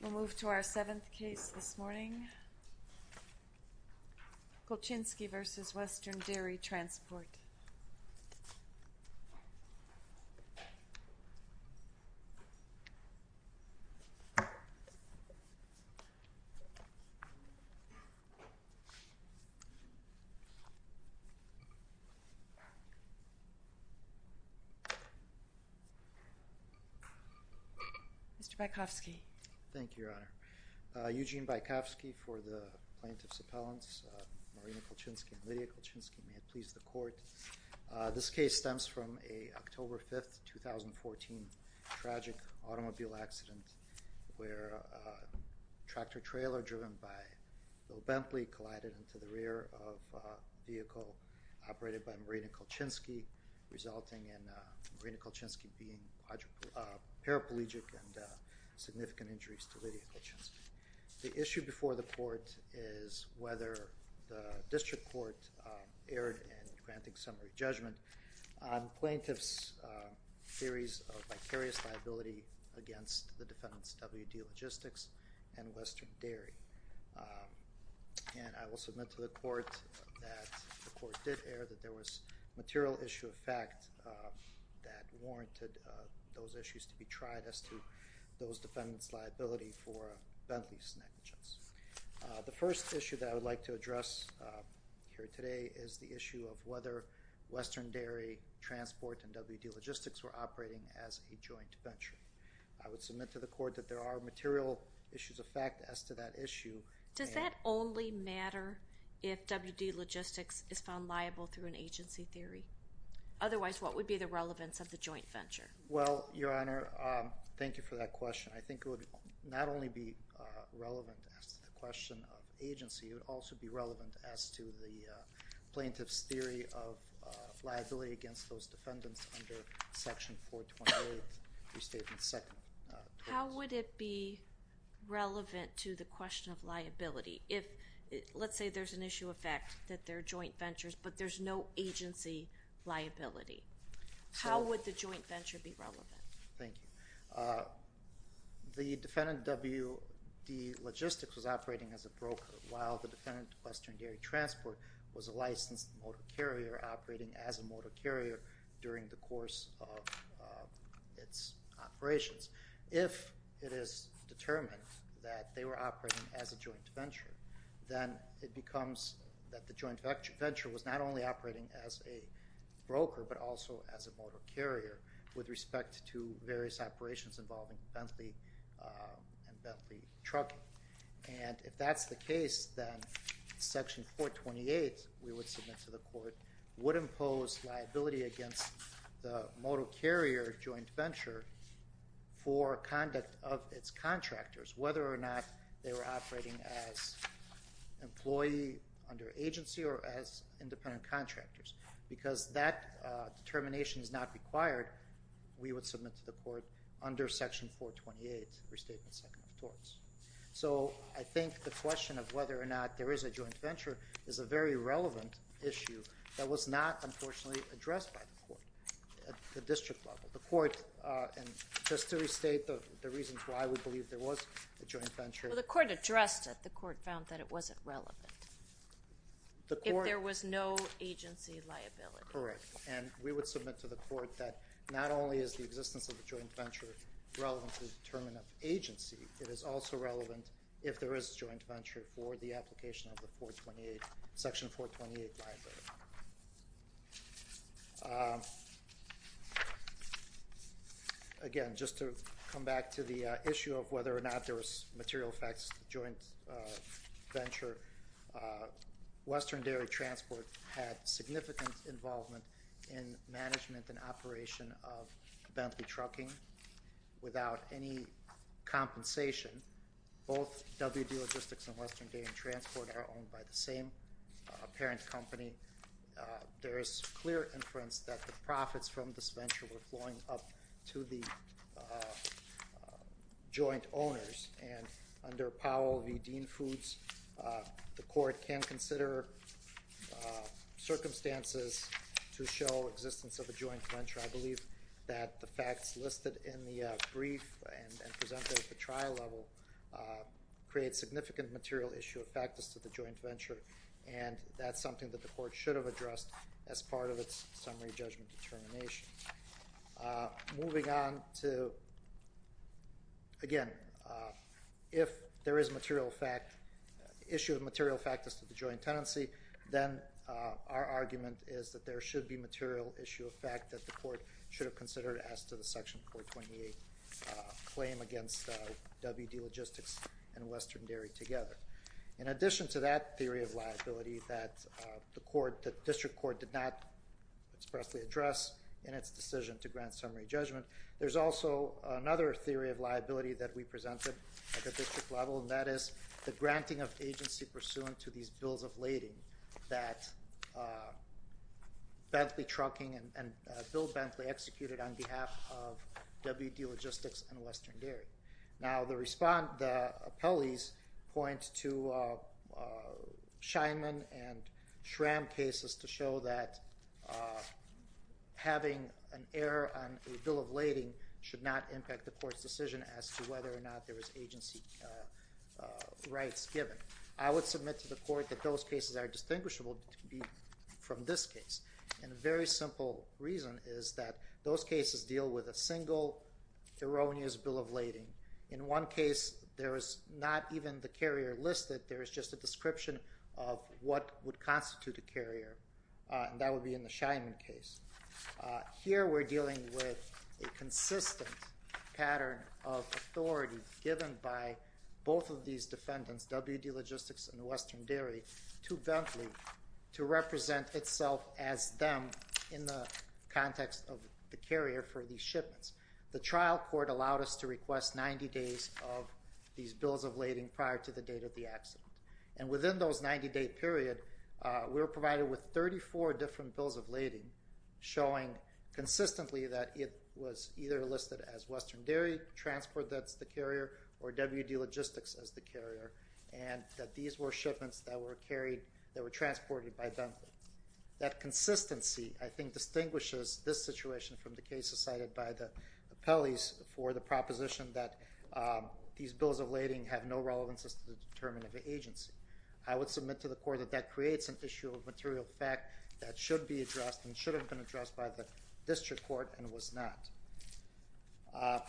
We'll move to our seventh case this morning. Kolchinsky v. Western Dairy Transport Mr. Bykovsky Thank you, Your Honor. Eugene Bykovsky for the plaintiff's appellants, Marina Kolchinsky and Lydia Kolchinsky. May it please the Court. This case stems from an October 5, 2014, tragic automobile accident where a tractor-trailer driven by Bill Bentley collided into the rear of a vehicle operated by Marina Kolchinsky, resulting in Marina Kolchinsky being paraplegic and significant injuries to Lydia Kolchinsky. The issue before the Court is whether the District Court erred in granting summary judgment on plaintiff's theories of vicarious liability against the defendants' WD Logistics and Western Dairy. And I will submit to the Court that the Court did err, that there was material issue of fact that warranted those issues to be tried as to those defendants' liability for Bentley's negligence. The first issue that I would like to address here today is the issue of whether Western Dairy Transport and WD Logistics were operating as a joint venture. I would submit to the Court that there are material issues of fact as to that issue. Does that only matter if WD Logistics is found liable through an agency theory? Otherwise, what would be the relevance of the joint venture? Well, Your Honor, thank you for that question. I think it would not only be relevant as to the question of agency, it would also be relevant as to the plaintiff's theory of liability against those defendants under Section 428, Restatement 2. How would it be relevant to the question of liability if, let's say there's an issue of fact that they're joint ventures, but there's no agency liability? How would the joint venture be relevant? Thank you. The defendant, WD Logistics, was operating as a broker while the defendant, Western Dairy Transport, was a licensed motor carrier operating as a motor carrier during the course of its operations. If it is determined that they were operating as a joint venture, then it becomes that the joint venture was not only operating as a broker but also as a motor carrier with respect to various operations involving Bentley and Bentley Trucking. And if that's the case, then Section 428, we would submit to the court, would impose liability against the motor carrier joint venture for conduct of its contractors, whether or not they were operating as an employee under agency or as independent contractors. Because that determination is not required, we would submit to the court under Section 428, Restatement 2 of torts. So I think the question of whether or not there is a joint venture is a very relevant issue that was not, unfortunately, addressed by the court at the district level. The court, and just to restate the reasons why we believe there was a joint venture... Well, the court addressed it. The court found that it wasn't relevant. The court... If there was no agency liability. Correct. And we would submit to the court that not only is the existence of a joint venture relevant to the term of agency, it is also relevant if there is a joint venture for the application of the Section 428 library. Again, just to come back to the issue of whether or not there was material effects of the joint venture, Western Dairy Transport had significant involvement in management and operation of Bentley Trucking. Without any compensation, both WD Logistics and Western Dairy Transport are owned by the same parent company. There is clear inference that the profits from this venture were flowing up to the joint owners. And under Powell v. Dean Foods, the court can consider circumstances to show existence of a joint venture. I believe that the facts listed in the brief and presented at the trial level create significant material issue of factors to the joint venture. And that's something that the court should have addressed as part of its summary judgment determination. Moving on to... Again, if there is issue of material factors to the joint tenancy, then our argument is that there should be material issue of fact that the court should have considered as to the Section 428 claim against WD Logistics and Western Dairy together. In addition to that theory of liability that the district court did not expressly address in its decision to grant summary judgment, there's also another theory of liability that we presented at the district level, and that is the granting of agency pursuant to these bills of lading that Bentley Trucking and Bill Bentley executed on behalf of WD Logistics and Western Dairy. Now, the appellees point to Scheinman and Schramm cases to show that having an error on a bill of lading should not impact the court's decision as to whether or not there is agency rights given. I would submit to the court that those cases are distinguishable from this case. And a very simple reason is that those cases deal with a single erroneous bill of lading. In one case, there is not even the carrier listed. There is just a description of what would constitute a carrier, and that would be in the Scheinman case. Here we're dealing with a consistent pattern of authority given by both of these defendants, WD Logistics and Western Dairy, to Bentley to represent itself as them in the context of the carrier for these shipments. The trial court allowed us to request 90 days of these bills of lading prior to the date of the accident. And within those 90-day period, we were provided with 34 different bills of lading, showing consistently that it was either listed as Western Dairy transport that's the carrier, or WD Logistics as the carrier, and that these were shipments that were transported by Bentley. That consistency, I think, distinguishes this situation from the cases cited by the appellees for the proposition that these bills of lading have no relevance as to the determinant of agency. I would submit to the court that that creates an issue of material fact that should be addressed and should have been addressed by the district court and was not.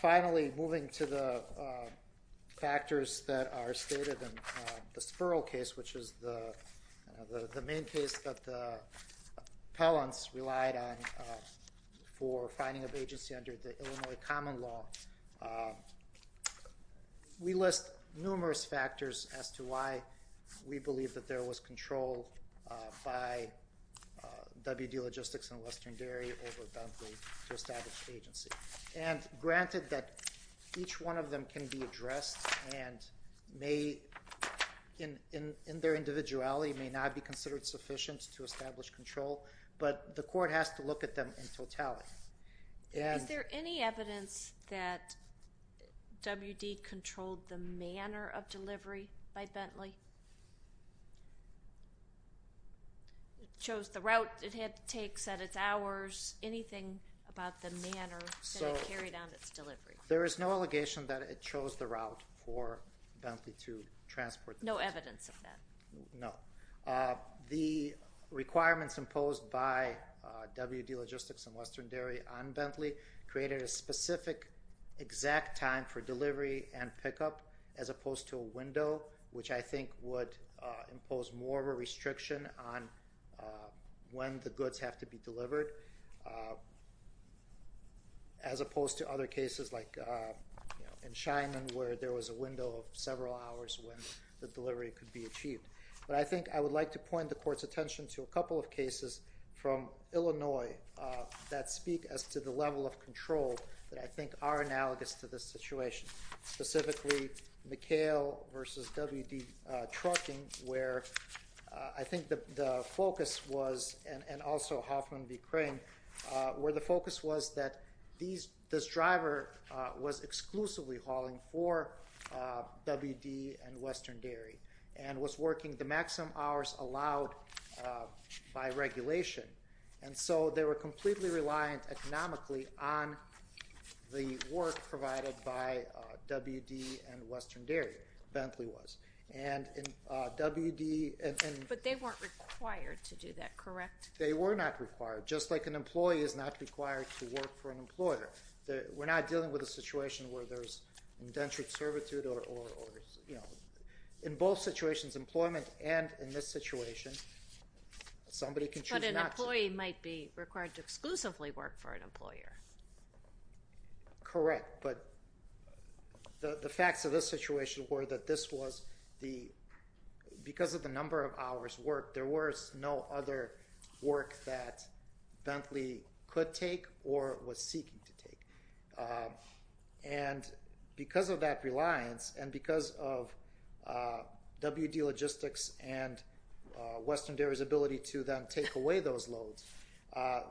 Finally, moving to the factors that are stated in the Spurl case, which is the main case that the appellants relied on for finding of agency under the Illinois Common Law. We list numerous factors as to why we believe that there was control by WD Logistics and Western Dairy over Bentley to establish agency. And granted that each one of them can be addressed and may, in their individuality, may not be considered sufficient to establish control, but the court has to look at them in totality. Is there any evidence that WD controlled the manner of delivery by Bentley? It shows the route it had to take, set its hours, anything about the manner that it carried out its delivery. There is no allegation that it chose the route for Bentley to transport. No evidence of that? No. The requirements imposed by WD Logistics and Western Dairy on Bentley created a specific exact time for delivery and pickup as opposed to a window, which I think would impose more of a restriction on when the goods have to be delivered, as opposed to other cases like in Scheinman where there was a window of several hours when the delivery could be achieved. But I think I would like to point the court's attention to a couple of cases from Illinois that speak as to the level of control that I think are analogous to this situation, specifically McHale v. WD Trucking where I think the focus was, and also Hoffman v. Crane, where the focus was that this driver was exclusively hauling for WD and Western Dairy and was working the maximum hours allowed by regulation. And so they were completely reliant economically on the work provided by WD and Western Dairy, Bentley was. But they weren't required to do that, correct? They were not required, just like an employee is not required to work for an employer. We're not dealing with a situation where there's indentured servitude or, you know, in both situations, employment and in this situation, somebody can choose not to. An employee might be required to exclusively work for an employer. Correct, but the facts of this situation were that this was the, because of the number of hours worked, there was no other work that Bentley could take or was seeking to take. And because of that reliance and because of WD Logistics and Western Dairy's ability to then take away those loads,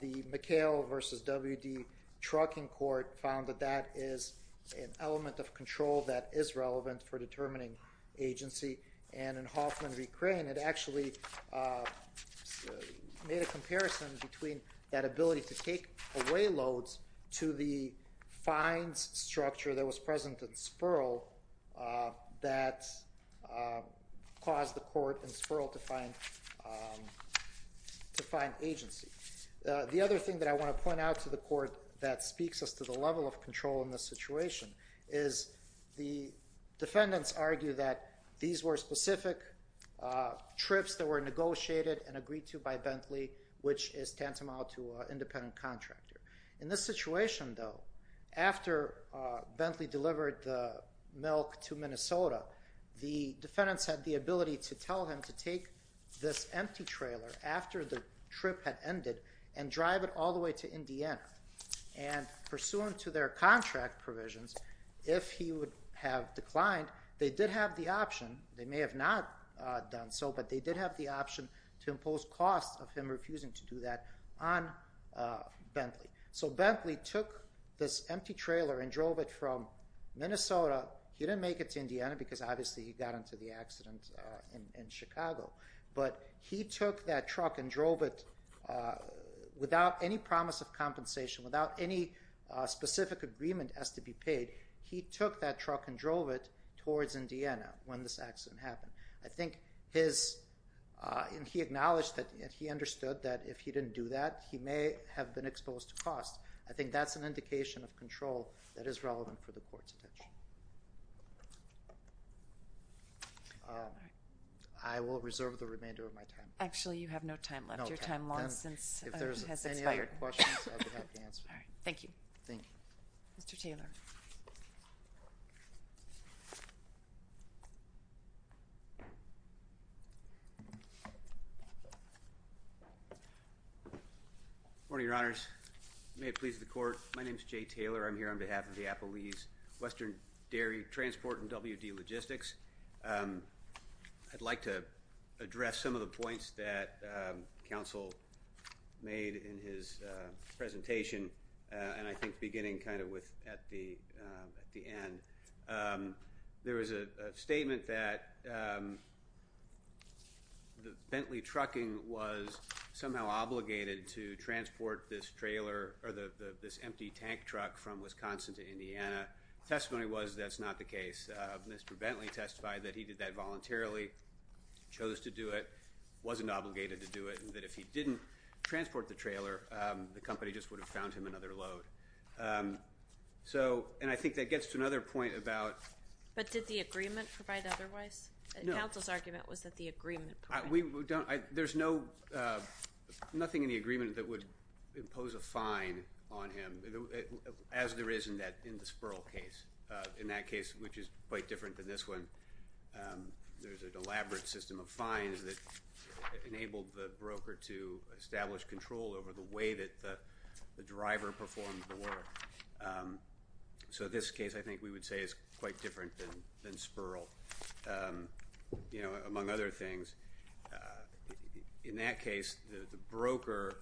the McHale v. WD Trucking court found that that is an element of control that is relevant for determining agency. And in Hoffman v. Crane, it actually made a comparison between that ability to take away loads to the fines structure that was present in Spurl that caused the court in Spurl to find agency. The other thing that I want to point out to the court that speaks us to the level of control in this situation is the defendants argue that these were specific trips that were negotiated and agreed to by Bentley, which is tantamount to an independent contractor. In this situation, though, after Bentley delivered the milk to Minnesota, the defendants had the ability to tell him to take this empty trailer after the trip had ended and drive it all the way to Indiana. And pursuant to their contract provisions, if he would have declined, they did have the option, they may have not done so, but they did have the option to impose costs of him refusing to do that on Bentley. So Bentley took this empty trailer and drove it from Minnesota. He didn't make it to Indiana because obviously he got into the accident in Chicago. But he took that truck and drove it without any promise of compensation, without any specific agreement as to be paid. He took that truck and drove it towards Indiana when this accident happened. I think he acknowledged that he understood that if he didn't do that, he may have been exposed to costs. I think that's an indication of control that is relevant for the court's attention. I will reserve the remainder of my time. Actually, you have no time left. Your time long since has expired. If there's any other questions, I would be happy to answer them. Thank you. Thank you. Mr. Taylor. Good morning, Your Honors. May it please the court. My name is Jay Taylor. I'm here on behalf of the Appalachian Western Dairy Transport and WD Logistics. I'd like to address some of the points that counsel made in his presentation, and I think beginning kind of with at the end. There was a statement that Bentley Trucking was somehow obligated to transport this trailer or this empty tank truck from Wisconsin to Indiana. Testimony was that's not the case. Mr. Bentley testified that he did that voluntarily, chose to do it, wasn't obligated to do it, and that if he didn't transport the trailer, the company just would have found him another load. So, and I think that gets to another point about. But did the agreement provide otherwise? No. Counsel's argument was that the agreement provided otherwise. There's nothing in the agreement that would impose a fine on him as there is in the Spurl case. In that case, which is quite different than this one, there's an elaborate system of fines that enabled the broker to establish control over the way that the driver performed the work. So this case, I think we would say, is quite different than Spurl, you know, among other things. In that case, the broker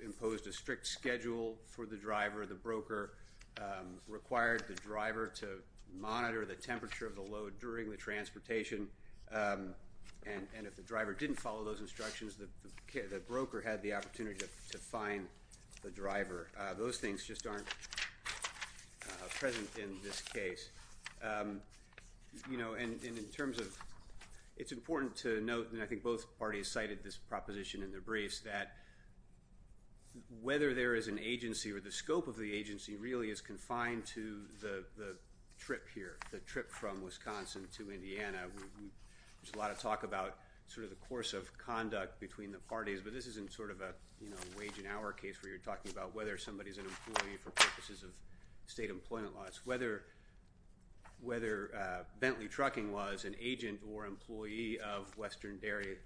imposed a strict schedule for the driver. The broker required the driver to monitor the temperature of the load during the transportation. And if the driver didn't follow those instructions, the broker had the opportunity to fine the driver. Those things just aren't present in this case. You know, and in terms of it's important to note, and I think both parties cited this proposition in their briefs, that whether there is an agency or the scope of the agency really is confined to the trip here, the trip from Wisconsin to Indiana. There's a lot of talk about sort of the course of conduct between the parties, but this isn't sort of a wage and hour case where you're talking about whether somebody's an employee for purposes of state employment laws. Whether Bentley Trucking was an agent or employee of Western Dairy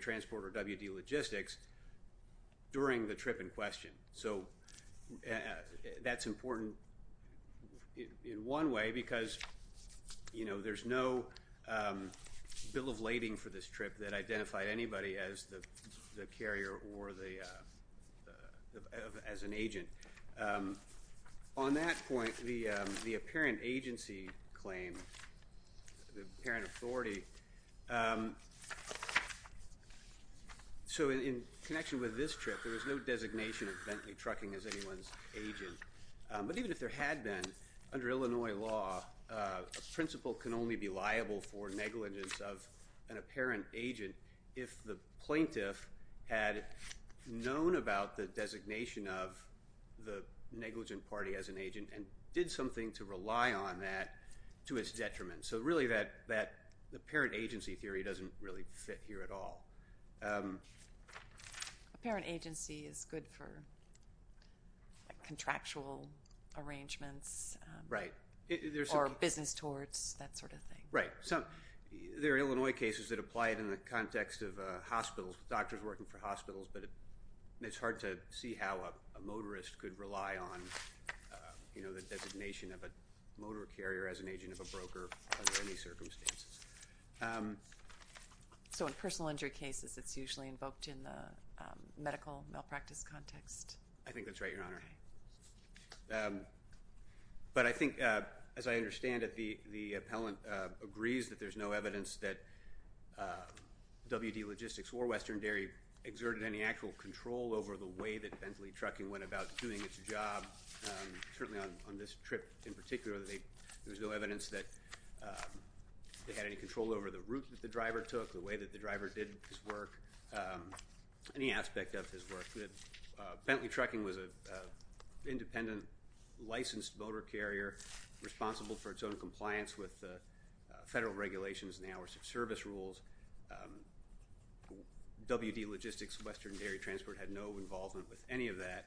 Transport or WD Logistics during the trip in question. So that's important in one way because, you know, there's no bill of lading for this trip that identified anybody as the carrier or as an agent. On that point, the apparent agency claim, the apparent authority, so in connection with this trip, there was no designation of Bentley Trucking as anyone's agent. But even if there had been, under Illinois law, a principal can only be liable for negligence of an apparent agent if the plaintiff had known about the designation of the negligent party as an agent and did something to rely on that to its detriment. So really that apparent agency theory doesn't really fit here at all. Apparent agency is good for contractual arrangements. Right. Or business torts, that sort of thing. Right. There are Illinois cases that apply it in the context of hospitals, doctors working for hospitals, but it's hard to see how a motorist could rely on the designation of a motor carrier as an agent of a broker under any circumstances. So in personal injury cases, it's usually invoked in the medical malpractice context? I think that's right, Your Honor. But I think, as I understand it, the appellant agrees that there's no evidence that WD Logistics or Western Dairy exerted any actual control over the way that Bentley Trucking went about doing its job. Certainly on this trip in particular, there was no evidence that they had any control over the route that the driver took, the way that the driver did his work, any aspect of his work. Bentley Trucking was an independent, licensed motor carrier responsible for its own compliance with federal regulations and the hours of service rules. WD Logistics and Western Dairy Transport had no involvement with any of that.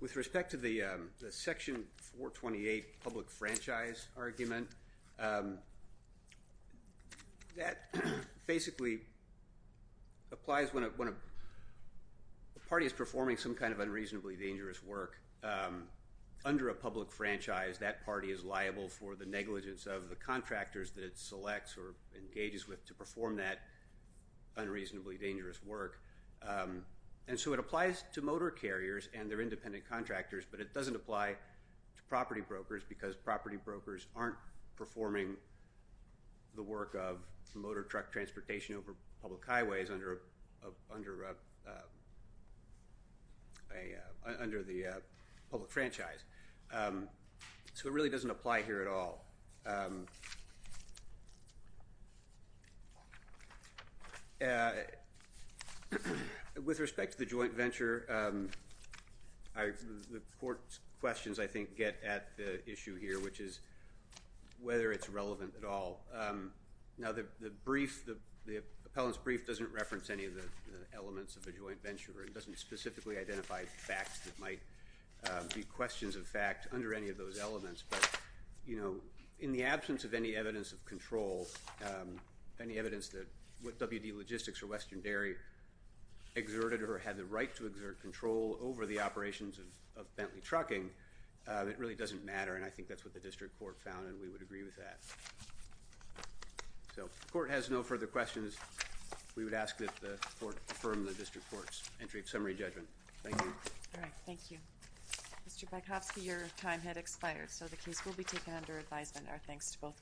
With respect to the Section 428 public franchise argument, that basically applies when a party is performing some kind of unreasonably dangerous work under a public franchise. That party is liable for the negligence of the contractors that it selects or engages with to perform that unreasonably dangerous work. And so it applies to motor carriers and their independent contractors, but it doesn't apply to property brokers because property brokers aren't performing the work of motor truck transportation over public highways under the public franchise. So it really doesn't apply here at all. With respect to the joint venture, the court's questions I think get at the issue here, which is whether it's relevant at all. Now the brief, the appellant's brief doesn't reference any of the elements of a joint venture. It doesn't specifically identify facts that might be questions of fact under any of those elements. But, you know, in the absence of any evidence of control, any evidence that WD Logistics or Western Dairy exerted or had the right to exert control over the operations of Bentley Trucking, it really doesn't matter and I think that's what the district court found and we would agree with that. So if the court has no further questions, we would ask that the court affirm the district court's entry of summary judgment. Thank you. All right, thank you. Mr. Bekovsky, your time had expired, so the case will be taken under advisement. Our thanks to both parties.